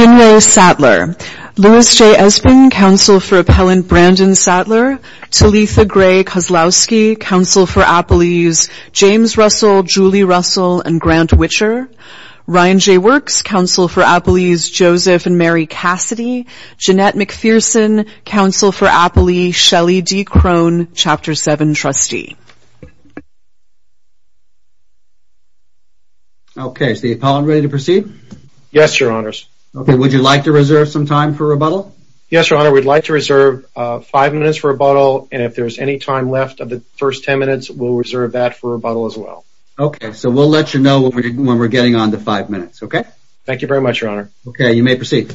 Lewis J. Espin, counsel for appellant Brandon Sattler, Talitha Gray Kozlowski, counsel for appellees James Russell, Julie Russell, and Grant Witcher, Ryan J. Works, counsel for appellees Joseph and Mary Cassidy, Jeanette McPherson, counsel for appellee Shelley D. Crone, Chapter 7 trustee. Okay, is the appellant ready to proceed? Yes, your honors. Okay, would you like to reserve some time for rebuttal? Yes, your honor. We'd like to reserve five minutes for rebuttal, and if there's any time left of the first ten minutes, we'll reserve that for rebuttal as well. Okay, so we'll let you know when we're getting on to five minutes, okay? Thank you very much, your honor. Okay, you may proceed.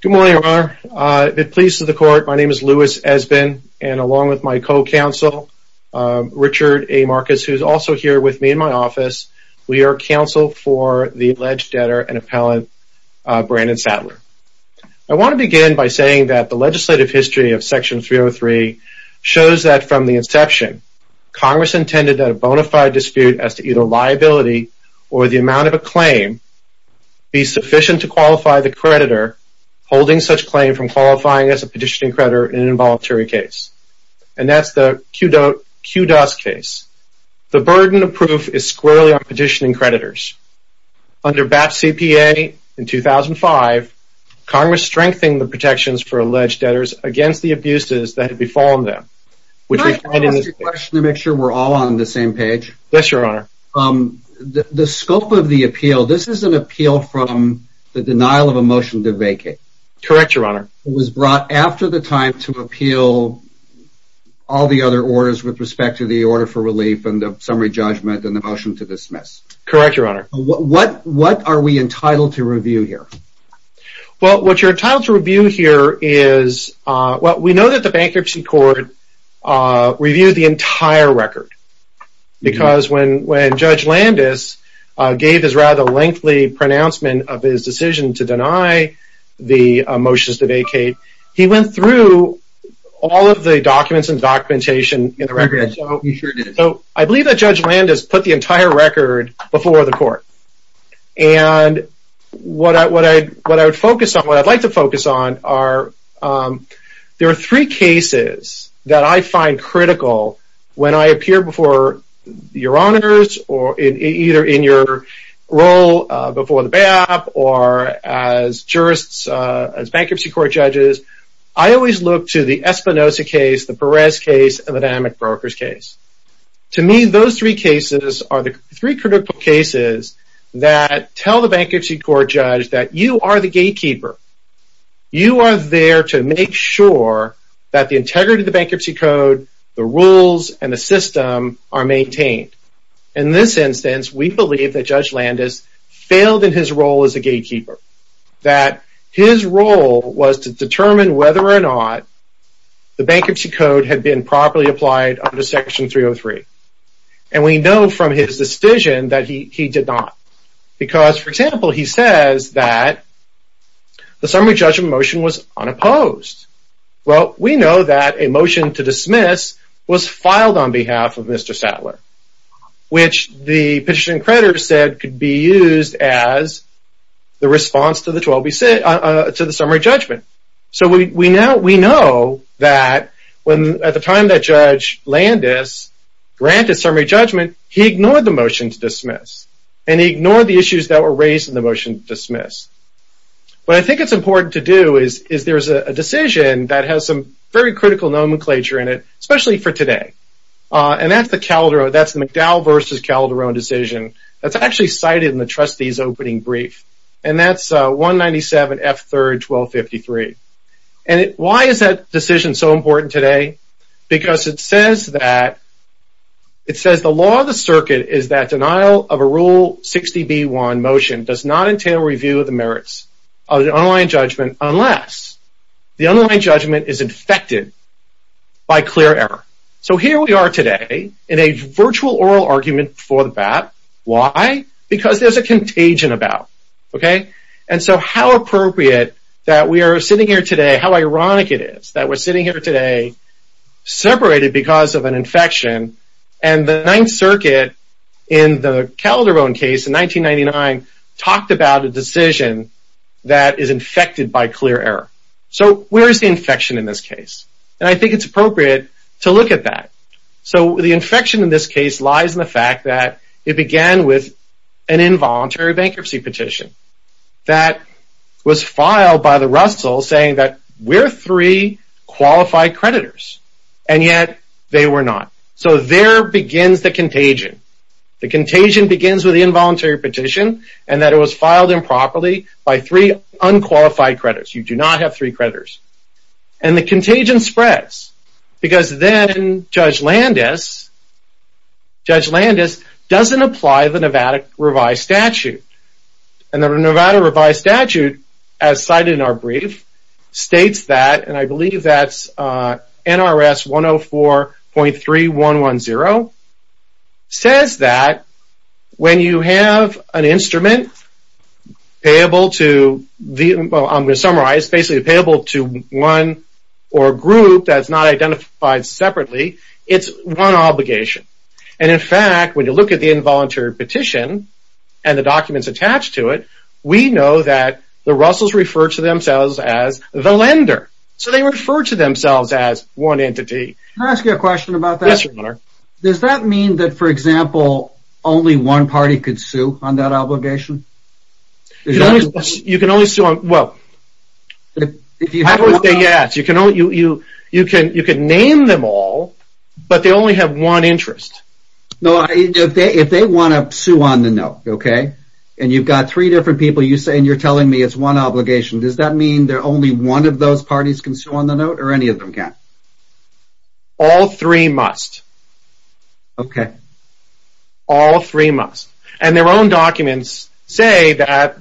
Good morning, your honor. I've been pleased to the court. My name is Lewis Espin, and along with my co-counsel, Richard A. Marcus, who's also here with me in my office, we are counsel for the alleged debtor and appellant, Brandon Sadler. I want to begin by saying that the legislative history of Section 303 shows that from the inception, Congress intended that a bona fide dispute as to either liability or the amount of a claim be sufficient to qualify the creditor holding such claim from qualifying as a petitioning creditor in an involuntary case, and that's the QDOS case. The burden of proof is squarely on petitioning creditors. Under BAPT CPA in 2005, Congress strengthened the protections for alleged debtors against the abuses that had befallen them, which we find in this case. Can I ask you a question to make sure we're all on the same page? Yes, your honor. The scope of the appeal, this is an appeal from the denial of a motion to vacate. Correct, your honor. It was brought after the time to appeal all the other orders with respect to the order for relief and the summary judgment and the motion to dismiss. Correct, your honor. What are we entitled to review here? Well, what you're entitled to review here is, we know that the bankruptcy court reviewed the entire record, because when Judge Landis gave his rather lengthy pronouncement of his decision to deny the motions to vacate, he went through all of the documents and documentation in the record. So, I believe that Judge Landis put the entire record before the court. And what I would focus on, what I'd like to focus on are, there are three cases that I find critical when I appear before your honors or either in your role before the BAPT or as jurists, as bankruptcy court judges. I always look to the Espinosa case, the Perez case, and the Dynamic Brokers case. To me, those three cases are the three critical cases that tell the bankruptcy court judge that you are the gatekeeper. You are there to make sure that the integrity of the bankruptcy code, the rules, and the system are maintained. In this instance, we believe that Judge Landis failed in his role as a gatekeeper. That his role was to determine whether or not the bankruptcy code had been properly applied under Section 303. And we know from his decision that he did not. Because, for example, he says that the summary judgment motion was unopposed. Well, we know that a motion to dismiss was filed on behalf of Mr. Sadler, which the petition responds to the summary judgment. So we know that at the time that Judge Landis granted summary judgment, he ignored the motion to dismiss. And he ignored the issues that were raised in the motion to dismiss. What I think it's important to do is there's a decision that has some very critical nomenclature in it, especially for today. And that's the McDowell v. Calderon decision that's actually cited in the trustee's opening brief. And that's 197F3R1253. And why is that decision so important today? Because it says that the law of the circuit is that denial of a Rule 60B1 motion does not entail review of the merits of the underlying judgment unless the underlying judgment is infected by clear error. So here we are today in a virtual oral argument for the BAP. Why? Because there's a contagion about. And so how appropriate that we are sitting here today, how ironic it is that we're sitting here today separated because of an infection. And the Ninth Circuit in the Calderon case in 1999 talked about a decision that is infected by clear error. So where is the infection in this case? And I think it's appropriate to look at that. So the infection in this case lies in the fact that it began with an involuntary bankruptcy petition that was filed by the Russell saying that we're three qualified creditors and yet they were not. So there begins the contagion. The contagion begins with the involuntary petition and that it was filed improperly by three unqualified creditors. You do not have three creditors. And the contagion spreads because then Judge Landis doesn't apply the Nevada Revised Statute. And the Nevada Revised Statute, as cited in our brief, states that, and I believe that's NRS 104.3110, says that when you have an instrument payable to, I'm going to summarize, payable to one or group that's not identified separately, it's one obligation. And in fact, when you look at the involuntary petition and the documents attached to it, we know that the Russells refer to themselves as the lender. So they refer to themselves as one entity. Can I ask you a question about that? Does that mean that, for example, only one party could sue on that obligation? You can only sue on, well, I would say yes, you can name them all, but they only have one interest. If they want to sue on the note, okay, and you've got three different people and you're telling me it's one obligation, does that mean that only one of those parties can sue on the note or any of them can? All three must. All three must. And their own documents say that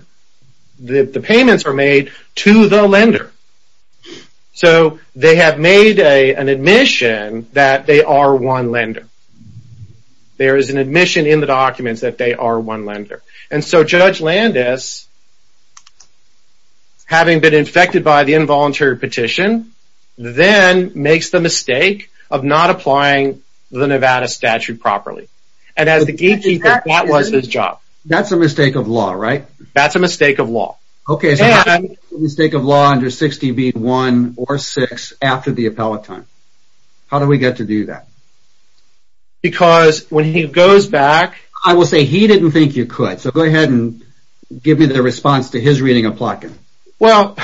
the payments are made to the lender. So they have made an admission that they are one lender. There is an admission in the documents that they are one lender. And so Judge Landis, having been infected by the involuntary petition, then makes the mistake of not applying the Nevada statute properly. And as the gatekeeper, that was his job. That's a mistake of law, right? That's a mistake of law. Okay, so he makes a mistake of law under 60 v. 1 or 6 after the appellate time. How do we get to do that? Because when he goes back... I will say he didn't think you could. So go ahead and give me the response to his reading of Plotkin. Well,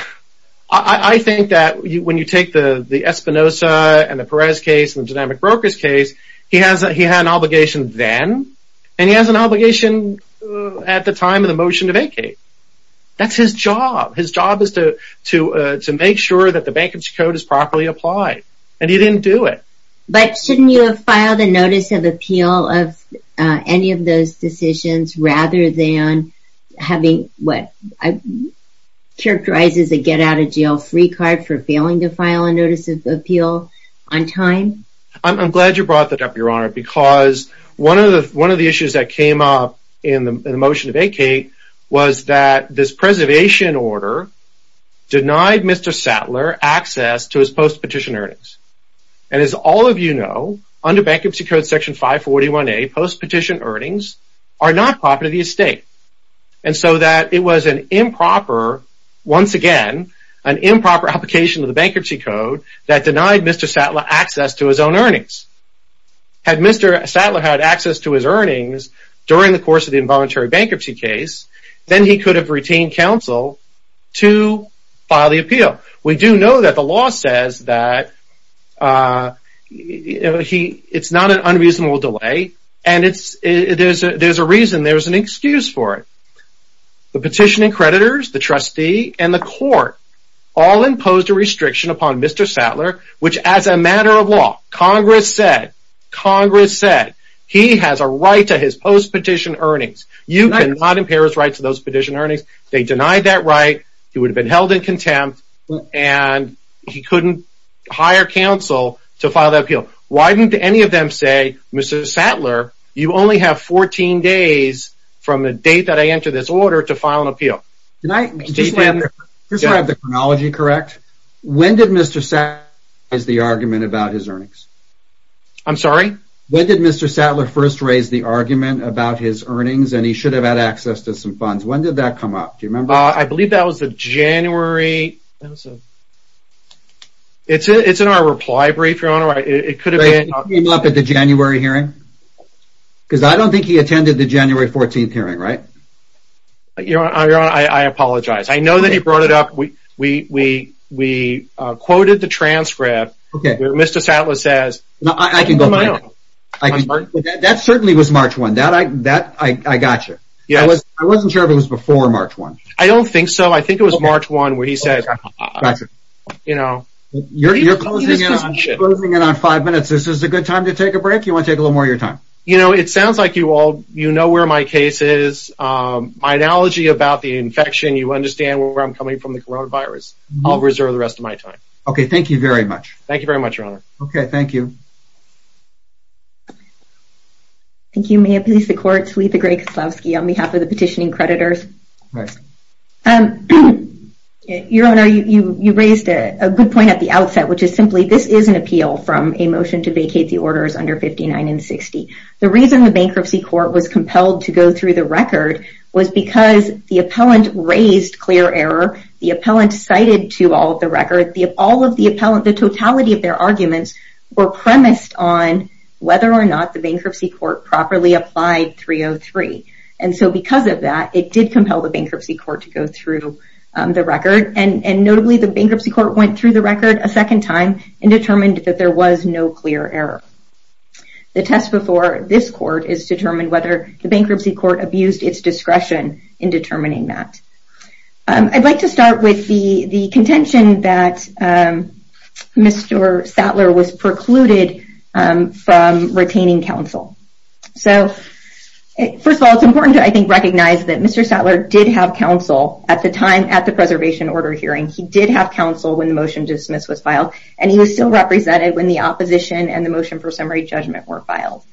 I think that when you take the Espinoza and the Perez case and the Dynamic Brokers case, he had an obligation then, and he has an obligation at the time of the motion to vacate. That's his job. His job is to make sure that the Bankruptcy Code is properly applied. And he didn't do it. But shouldn't you have filed a Notice of Appeal of any of those decisions rather than having what characterizes a get-out-of-jail-free card for failing to file a Notice of Appeal on time? I'm glad you brought that up, Your Honor, because one of the issues that came up in the motion to vacate was that this preservation order denied Mr. Sattler access to his post-petition earnings. And as all of you know, under Bankruptcy Code Section 541A, post-petition earnings are not property of the estate. And so that it was an improper, once again, an improper application of the Bankruptcy Code that denied Mr. Sattler access to his own earnings. Had Mr. Sattler had access to his earnings during the course of the involuntary bankruptcy case, then he could have retained counsel to file the appeal. We do know that the law says that it's not an unreasonable delay, and there's a reason, there's an excuse for it. The petitioning creditors, the trustee, and the court all imposed a restriction upon Mr. Sattler, which as a matter of law, Congress said, Congress said, he has a right to his post-petition earnings. You cannot impair his right to those petition earnings. They denied that right, he would have been held in contempt, and he couldn't hire counsel to file the appeal. Why didn't any of them say, Mr. Sattler, you only have 14 days from the date that I order to file an appeal? Did I have the chronology correct? When did Mr. Sattler first raise the argument about his earnings, and he should have had access to some funds? When did that come up? Do you remember? I believe that was the January, it's in our reply brief, Your Honor. It could have been. He came up at the January hearing? I don't think he attended the January 14th hearing, right? I apologize. I know that he brought it up, we quoted the transcript, where Mr. Sattler says, I can do my own. I can go back. That certainly was March 1, I got you. I wasn't sure if it was before March 1. I don't think so. I think it was March 1, where he said, you know. You're closing in on five minutes, is this a good time to take a break? Or do you want to take a little more of your time? It sounds like you know where my case is. My analogy about the infection, you understand where I'm coming from, the coronavirus. I'll reserve the rest of my time. Thank you very much. Thank you very much, Your Honor. Okay, thank you. Thank you. May it please the Court to leave the Great-Kaslavsky on behalf of the petitioning creditors. Your Honor, you raised a good point at the outset, which is simply, this is an appeal from a motion to vacate the orders under 59 and 60. The reason the Bankruptcy Court was compelled to go through the record was because the appellant raised clear error. The appellant cited to all of the record, all of the appellant, the totality of their arguments were premised on whether or not the Bankruptcy Court properly applied 303. And so because of that, it did compel the Bankruptcy Court to go through the record. And notably, the Bankruptcy Court went through the record a second time and determined that there was no clear error. The test before this Court is to determine whether the Bankruptcy Court abused its discretion in determining that. I'd like to start with the contention that Mr. Sattler was precluded from retaining counsel. So first of all, it's important to, I think, recognize that Mr. Sattler did have counsel at the time, at the preservation order hearing. He did have counsel when the motion to dismiss was filed, and he was still represented when the opposition and the motion for summary judgment were filed.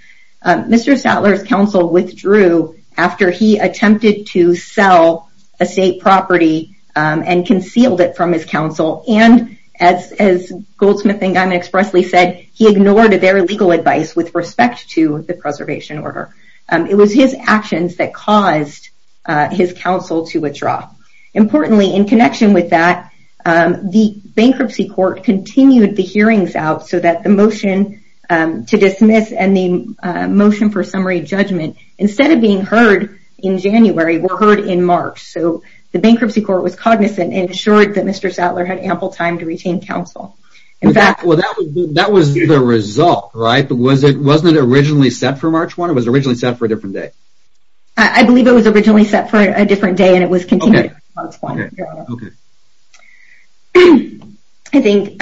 Mr. Sattler's counsel withdrew after he attempted to sell a state property and concealed it from his counsel, and as Goldsmith and Gunn expressly said, he ignored their legal advice with respect to the preservation order. It was his actions that caused his counsel to withdraw. Importantly, in connection with that, the Bankruptcy Court continued the hearings out so that the motion to dismiss and the motion for summary judgment, instead of being heard in January, were heard in March. So the Bankruptcy Court was cognizant and ensured that Mr. Sattler had ample time to retain counsel. In fact... Well, that was the result, right? Wasn't it originally set for March 1? It was originally set for a different day? I believe it was originally set for a different day, and it was continued for March 1. Okay. Okay. I think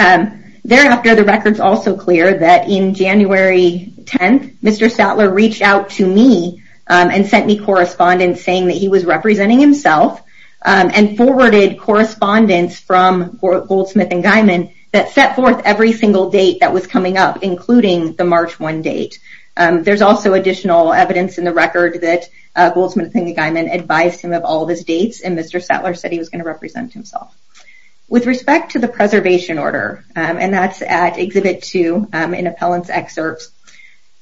thereafter, the record's also clear that in January 10th, Mr. Sattler reached out to me and sent me correspondence saying that he was representing himself and forwarded correspondence from Goldsmith and Guymon that set forth every single date that was coming up, including the March 1 date. There's also additional evidence in the record that Goldsmith and Guymon advised him of all those dates, and Mr. Sattler said he was going to represent himself. With respect to the preservation order, and that's at Exhibit 2 in Appellant's Excerpts,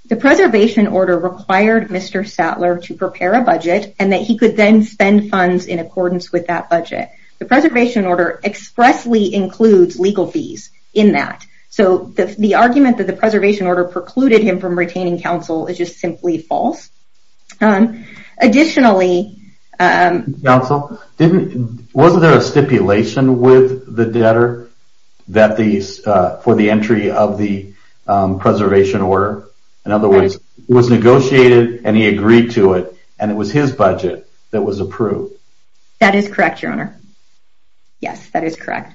the preservation order required Mr. Sattler to prepare a budget and that he could then spend funds in accordance with that budget. The preservation order expressly includes legal fees in that. So the argument that the preservation order precluded him from retaining counsel is just simply false. Additionally... Counsel, wasn't there a stipulation with the debtor for the entry of the preservation order? In other words, it was negotiated and he agreed to it, and it was his budget that was approved. That is correct, Your Honor. Yes, that is correct.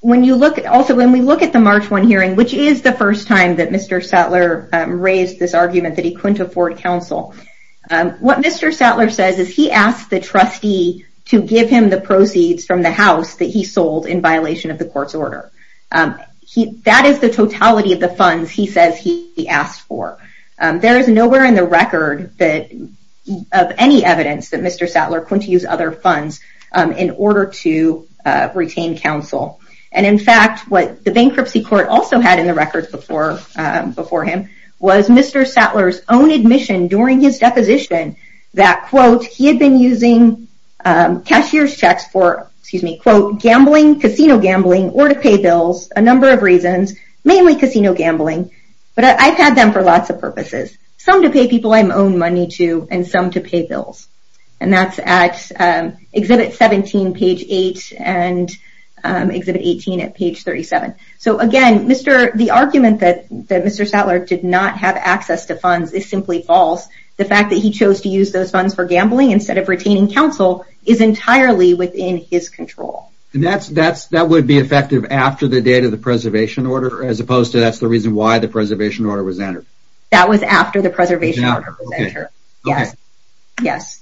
When you look... Also, when we look at the March 1 hearing, which is the first time that Mr. Sattler raised this argument that he couldn't afford counsel, what Mr. Sattler says is he asked the trustee to give him the proceeds from the house that he sold in violation of the court's order. That is the totality of the funds he says he asked for. There is nowhere in the record of any evidence that Mr. Sattler couldn't use other funds in order to retain counsel. In fact, what the bankruptcy court also had in the records before him was Mr. Sattler's own admission during his deposition that, quote, he had been using cashier's checks for, quote, gambling, casino gambling, or to pay bills, a number of reasons, mainly casino gambling, but I've had them for lots of purposes, some to pay people I own money to, and some to pay bills, and that's at Exhibit 17, page 8, and Exhibit 18 at page 37. So, again, the argument that Mr. Sattler did not have access to funds is simply false. The fact that he chose to use those funds for gambling instead of retaining counsel is entirely within his control. That would be effective after the date of the preservation order, as opposed to that's the reason why the preservation order was entered? That was after the preservation order was entered. Yes. Yes.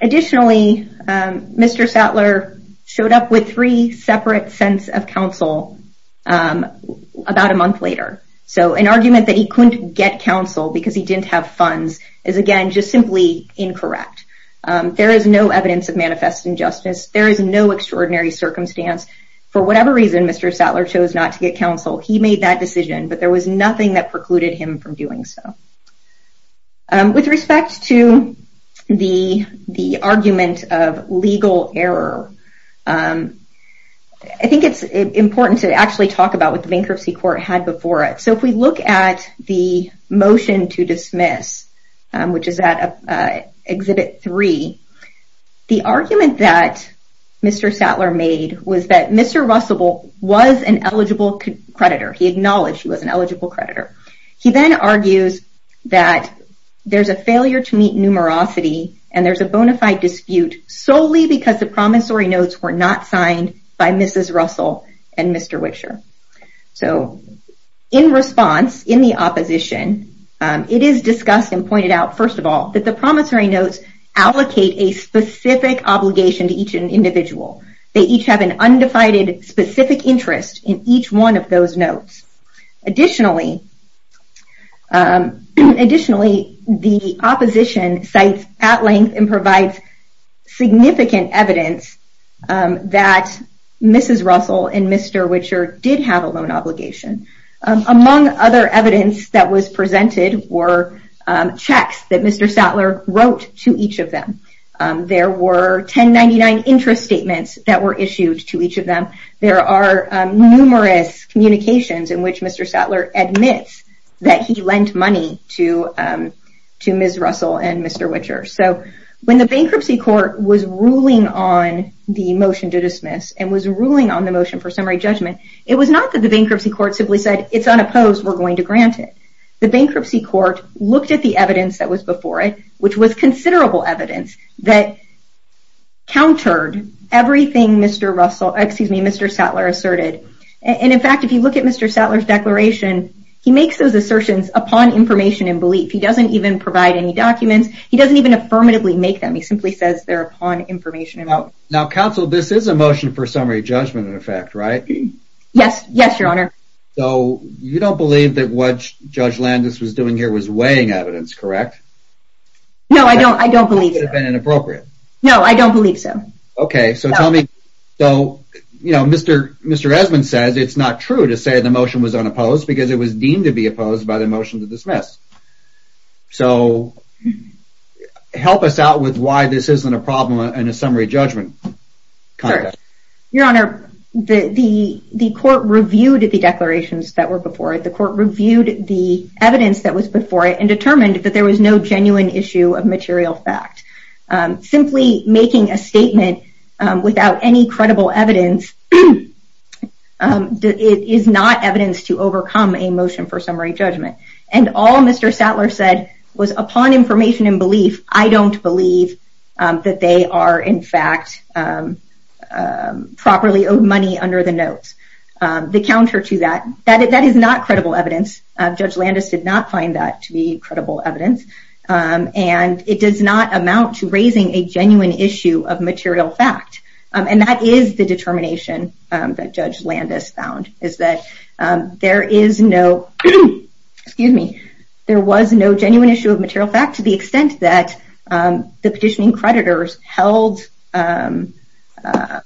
Additionally, Mr. Sattler showed up with three separate cents of counsel about a month later, so an argument that he couldn't get counsel because he didn't have funds is, again, just simply incorrect. There is no evidence of manifest injustice. There is no extraordinary circumstance. For whatever reason, Mr. Sattler chose not to get counsel. He made that decision, but there was nothing that precluded him from doing so. With respect to the argument of legal error, I think it's important to actually talk about what the bankruptcy court had before it. So, if we look at the motion to dismiss, which is at Exhibit 3, the argument that Mr. Sattler made was that Mr. Russell was an eligible creditor. He acknowledged he was an eligible creditor. He then argues that there's a failure to meet numerosity, and there's a bona fide dispute solely because the promissory notes were not signed by Mrs. Russell and Mr. Whitcher. In response, in the opposition, it is discussed and pointed out, first of all, that the promissory notes allocate a specific obligation to each individual. They each have an undivided, specific interest in each one of those notes. Additionally, the opposition cites at length and provides significant evidence that Mrs. Russell and Mr. Whitcher did have a loan obligation. Among other evidence that was presented were checks that Mr. Sattler wrote to each of them. There were 1099 interest statements that were issued to each of them. There are numerous communications in which Mr. Sattler admits that he lent money to Mrs. Russell and Mr. Whitcher. So, when the bankruptcy court was ruling on the motion to dismiss and was ruling on the motion for summary judgment, it was not that the bankruptcy court simply said, it's unopposed, we're going to grant it. The bankruptcy court looked at the evidence that was before it, which was considerable evidence that countered everything Mr. Sattler asserted. In fact, if you look at Mr. Sattler's declaration, he makes those assertions upon information and belief. He doesn't even provide any documents. He doesn't even affirmatively make them. He simply says they're upon information and belief. Now, counsel, this is a motion for summary judgment, in effect, right? Yes, your honor. So, you don't believe that what Judge Landis was doing here was weighing evidence, correct? No, I don't believe it. It must have been inappropriate. No, I don't believe so. Okay, so tell me, so, you know, Mr. Esmond says it's not true to say the motion was unopposed because it was deemed to be opposed by the motion to dismiss. So, help us out with why this isn't a problem in a summary judgment context. Your honor, the court reviewed the declarations that were before it. The court reviewed the evidence that was before it and determined that there was no genuine issue of material fact. Simply making a statement without any credible evidence is not evidence to overcome a motion for summary judgment. And all Mr. Sattler said was upon information and belief, I don't believe that they are, in fact, properly owed money under the notes. The counter to that, that is not credible evidence. Judge Landis did not find that to be credible evidence. And it does not amount to raising a genuine issue of material fact. And that is the determination that Judge Landis found, is that there is no, excuse me, there was no genuine issue of material fact to the extent that the petitioning creditors held, that the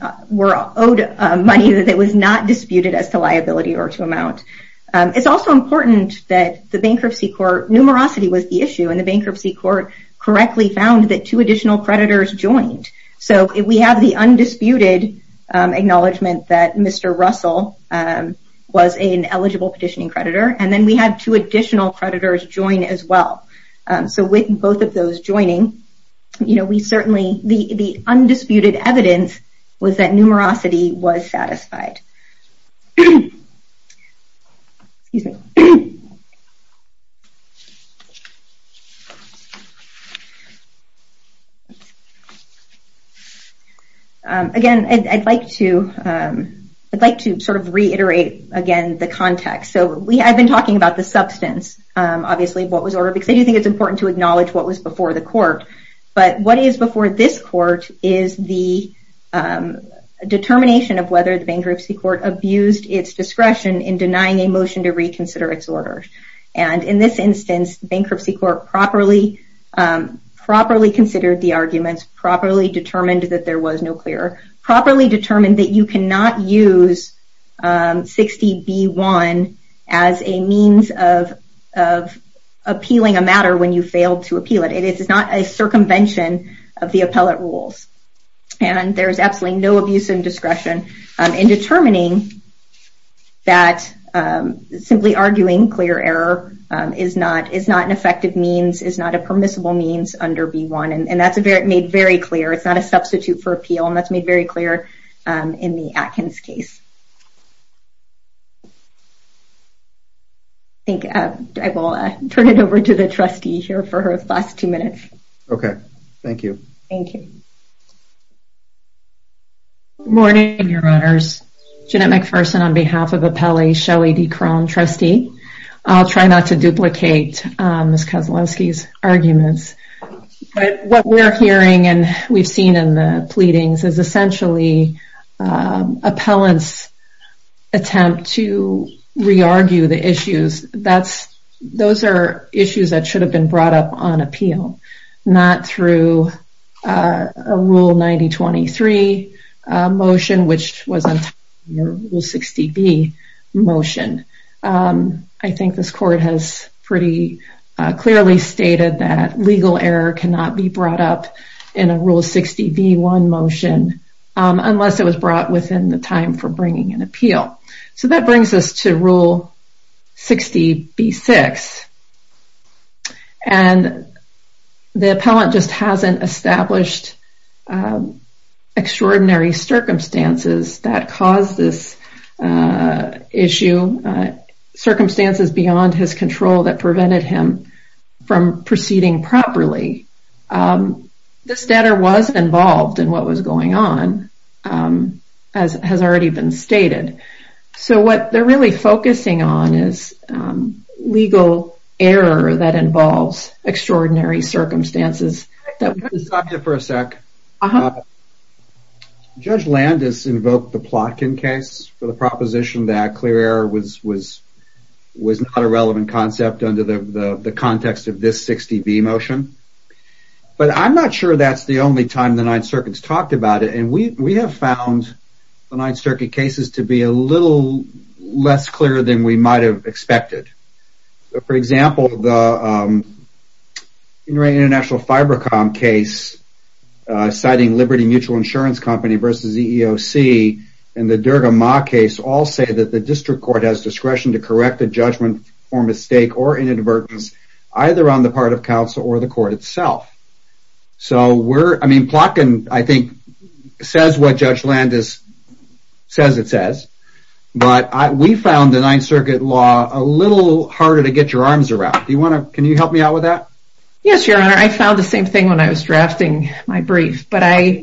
petitioners were owed money that was not disputed as to liability or to amount. It's also important that the bankruptcy court, numerosity was the issue, and the bankruptcy court correctly found that two additional creditors joined. So we have the undisputed acknowledgement that Mr. Russell was an eligible petitioning creditor. And then we had two additional creditors join as well. So with both of those joining, you know, we certainly, the undisputed evidence was that numerosity was satisfied. Again, I'd like to, I'd like to sort of reiterate, again, the context. So we have been talking about the substance, obviously, of what was ordered, because I do think it's important to acknowledge what was before the court. But what is before this court is the determination of whether the bankruptcy court abused its discretion in denying a motion to reconsider its order. And in this instance, bankruptcy court properly, properly considered the arguments, properly determined that there was no clear, properly determined that you cannot use 60B1 as a means of appealing a matter when you failed to appeal it. It is not a circumvention of the appellate rules. And there is absolutely no abuse of discretion in determining that simply arguing clear error is not an effective means, is not a permissible means under B1. And that's made very clear. It's not a substitute for appeal. And that's made very clear in the Atkins case. I think I will turn it over to the trustee here for her last two minutes. OK, thank you. Thank you. Good morning, your honors. Jeanette McPherson on behalf of Appellee Shelly D. Crone, trustee. I'll try not to duplicate Ms. Kozlowski's arguments. But what we're hearing and we've seen in the pleadings is essentially appellants attempt to re-argue the issues. That's those are issues that should have been brought up on appeal, not through a Rule 90-23 motion, which was a Rule 60B motion. I think this court has pretty clearly stated that legal error cannot be brought up in a Rule 60B-1 motion unless it was brought within the time for bringing an appeal. So that brings us to Rule 60B-6. And the appellant just hasn't established extraordinary circumstances that caused this issue, circumstances beyond his control that prevented him from proceeding properly. This debtor was involved in what was going on, as has already been stated. So what they're really focusing on is legal error that involves extraordinary circumstances. Let me stop you for a sec. Judge Landis invoked the Plotkin case for the proposition that clear error was not a relevant concept under the context of this 60B motion. But I'm not sure that's the only time the Ninth Circuit's talked about it. And we have found the Ninth Circuit cases to be a little less clear than we might have expected. For example, the International Fibrocom case, citing Liberty Mutual Insurance Company versus EEOC, and the Durga Ma case all say that the district court has discretion to correct a judgment or mistake or inadvertence either on the part of counsel or the court itself. So we're, I mean, Plotkin, I think, says what Judge Landis says it says, but we found the Ninth Circuit law a little harder to get your arms around. Do you want to, can you help me out with that? Yes, your honor. I found the same thing when I was drafting my brief, but I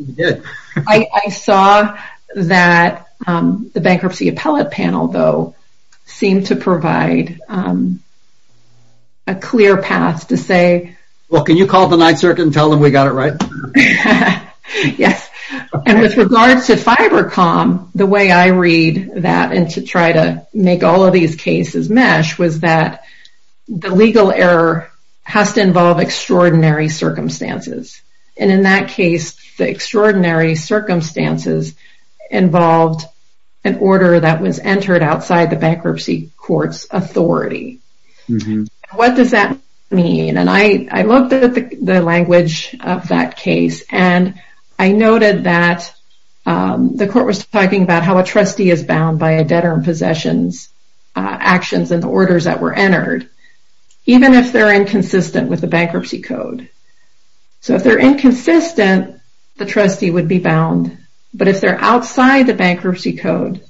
saw that the bankruptcy appellate panel, though, seemed to provide a clear path to say, Well, can you call the Ninth Circuit and tell them we got it right? Yes. And with regards to Fibrocom, the way I read that and to try to make all of these cases mesh was that the legal error has to involve extraordinary circumstances. And in that case, the extraordinary circumstances involved an order that was entered outside the bankruptcy court's authority. What does that mean? And I looked at the language of that case, and I noted that the court was talking about how a trustee is bound by a debtor in possessions actions and the orders that were entered, even if they're inconsistent with the bankruptcy code. So if they're inconsistent, the trustee would be bound. But if they're outside the bankruptcy code,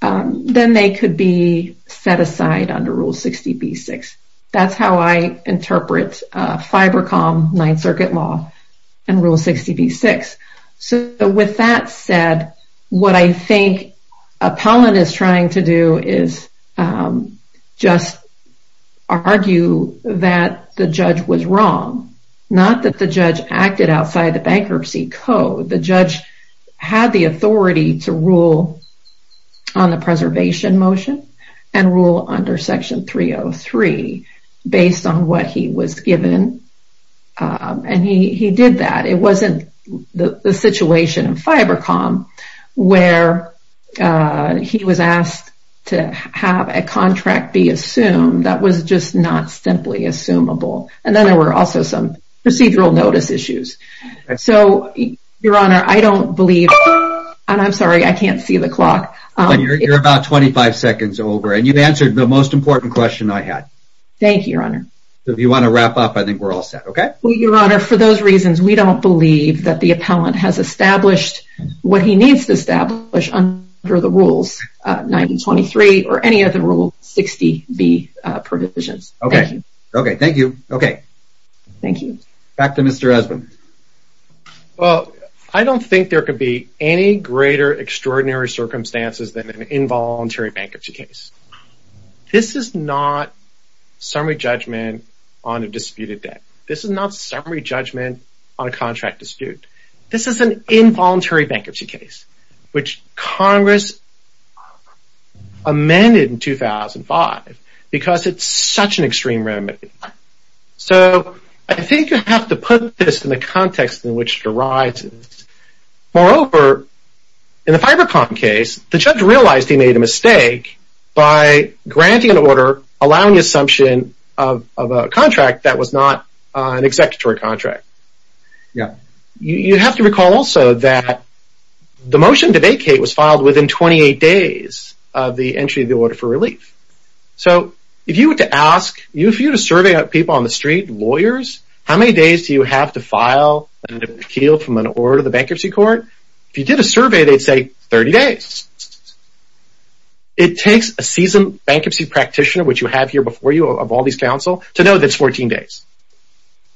then they could be set aside under Rule 60B-6. That's how I interpret Fibrocom Ninth Circuit law and Rule 60B-6. So with that said, what I think appellate is trying to do is just argue that the judge was wrong, not that the judge acted outside the bankruptcy code. The judge had the authority to rule on the preservation motion and rule under Section 303 based on what he was given. And he did that. It wasn't the situation in Fibrocom where he was asked to have a contract be assumed. That was just not simply assumable. And then there were also some procedural notice issues. So, Your Honor, I don't believe, and I'm sorry, I can't see the clock. You're about 25 seconds over, and you've answered the most important question I had. Thank you, Your Honor. If you want to wrap up, I think we're all set. Okay. Well, Your Honor, for those reasons, we don't believe that the appellant has established what he needs to establish under the Rules 1923 or any of the Rule 60B provisions. Okay. Okay. Thank you. Okay. Thank you. Back to Mr. Esben. Well, I don't think there could be any greater extraordinary circumstances than an involuntary bankruptcy case. This is not summary judgment on a disputed debt. This is not summary judgment on a contract dispute. This is an involuntary bankruptcy case, which Congress amended in 2005 because it's such an extreme remedy. So, I think you have to put this in the context in which it arises. Moreover, in the FiberCon case, the judge realized he made a mistake by granting an order, allowing the assumption of a contract that was not an executory contract. Yeah. You have to recall also that the motion to vacate was filed within 28 days of the entry of the order for relief. So, if you were to ask, if you were to survey people on the street, lawyers, how many days do you have to file an appeal from an order to the bankruptcy court? If you did a survey, they'd say 30 days. It takes a seasoned bankruptcy practitioner, which you have here before you of all these counsel, to know that it's 14 days.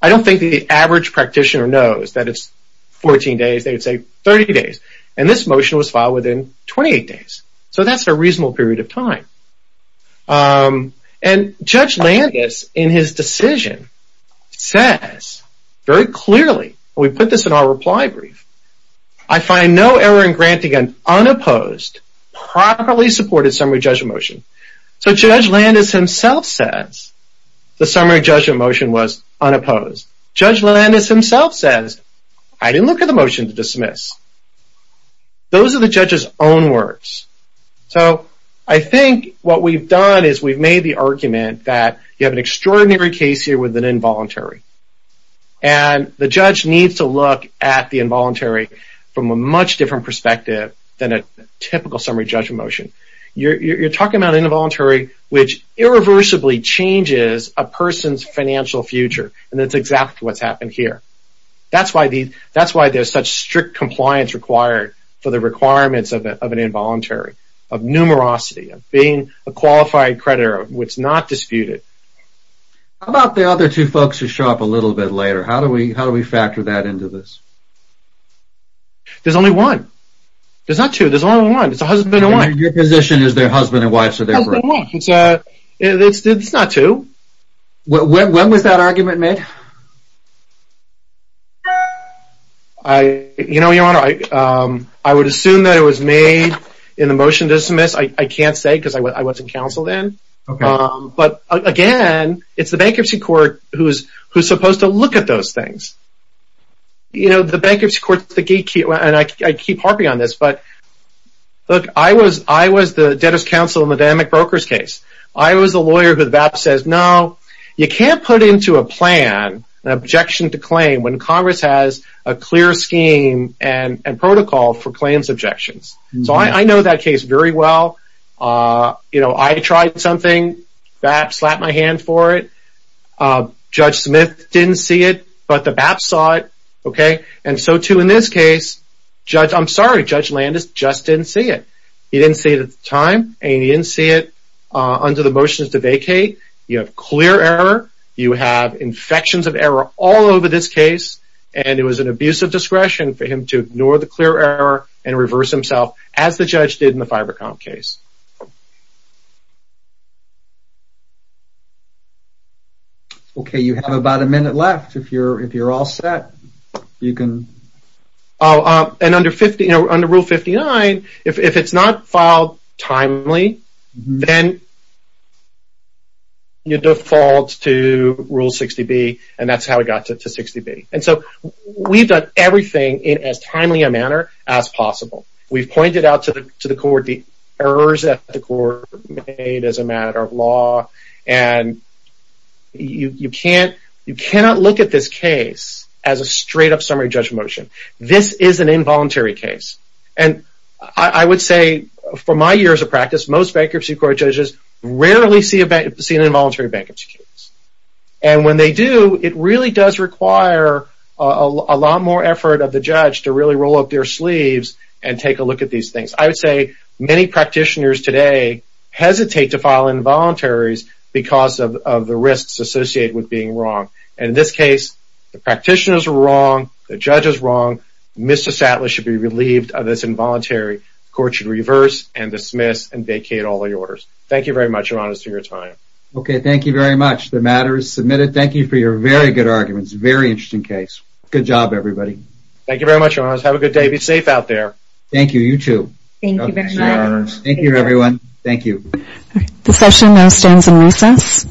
I don't think the average practitioner knows that it's 14 days. They would say 30 days. And this motion was filed within 28 days. So, that's a reasonable period of time. And Judge Landis, in his decision, says very clearly, and we put this in our reply brief, I find no error in granting an unopposed, properly supported summary judge motion. So, Judge Landis himself says the summary judge motion was unopposed. Judge Landis himself says, I didn't look at the motion to dismiss. Those are the judge's own words. So, I think what we've done is we've made the argument that you have an extraordinary case here with an involuntary. And the judge needs to look at the involuntary from a much different perspective than a typical summary judge motion. You're talking about involuntary, which irreversibly changes a person's financial future. And that's exactly what's happened here. That's why there's such strict compliance required for the requirements of an involuntary. Of numerosity, of being a qualified creditor, of what's not disputed. How about the other two folks who show up a little bit later? How do we factor that into this? There's only one. There's not two. There's only one. It's a husband and wife. Your position is they're husband and wife, so they're correct. It's not two. When was that argument made? I, you know, your honor, I would assume that it was made in the motion to dismiss. I can't say because I wasn't counseled in. But again, it's the bankruptcy court who's supposed to look at those things. You know, the bankruptcy court, and I keep harping on this, but look, I was the debtor's counsel in the dynamic broker's case. I was a lawyer who the VAP says, no, you can't put into a plan an objection to claim when Congress has a clear scheme and protocol for claims objections. So I know that case very well. You know, I tried something, VAP slapped my hand for it. Judge Smith didn't see it, but the VAP saw it, okay? And so, too, in this case, Judge, I'm sorry, Judge Landis just didn't see it. He didn't see it at the time, and he didn't see it under the motions to vacate. You have clear error. You have infections of error all over this case. And it was an abuse of discretion for him to ignore the clear error and reverse himself, as the judge did in the Fibre Comp case. Okay, you have about a minute left. If you're all set, you can... And under Rule 59, if it's not filed timely, then you default to Rule 60B, and that's how it got to 60B. And so, we've done everything in as timely a manner as possible. We've pointed out to the court the errors that the court made as a matter of law. And you cannot look at this case as a straight-up summary judge motion. This is an involuntary case. And I would say, for my years of practice, most bankruptcy court judges rarely see an involuntary bankruptcy case. And when they do, it really does require a lot more effort of the judge to really roll up their sleeves and take a look at these things. I would say many practitioners today hesitate to file involuntaries because of the risks associated with being wrong. And in this case, the practitioner is wrong, the judge is wrong, and Mr. Sattler should be relieved of this involuntary. The court should reverse and dismiss and vacate all the orders. Thank you very much, Your Honors, for your time. Okay, thank you very much. The matter is submitted. Thank you for your very good arguments. Very interesting case. Good job, everybody. Thank you very much, Your Honors. Have a good day. Be safe out there. Thank you. You, too. Thank you, Your Honors. Thank you, everyone. Thank you. The session now stands in recess.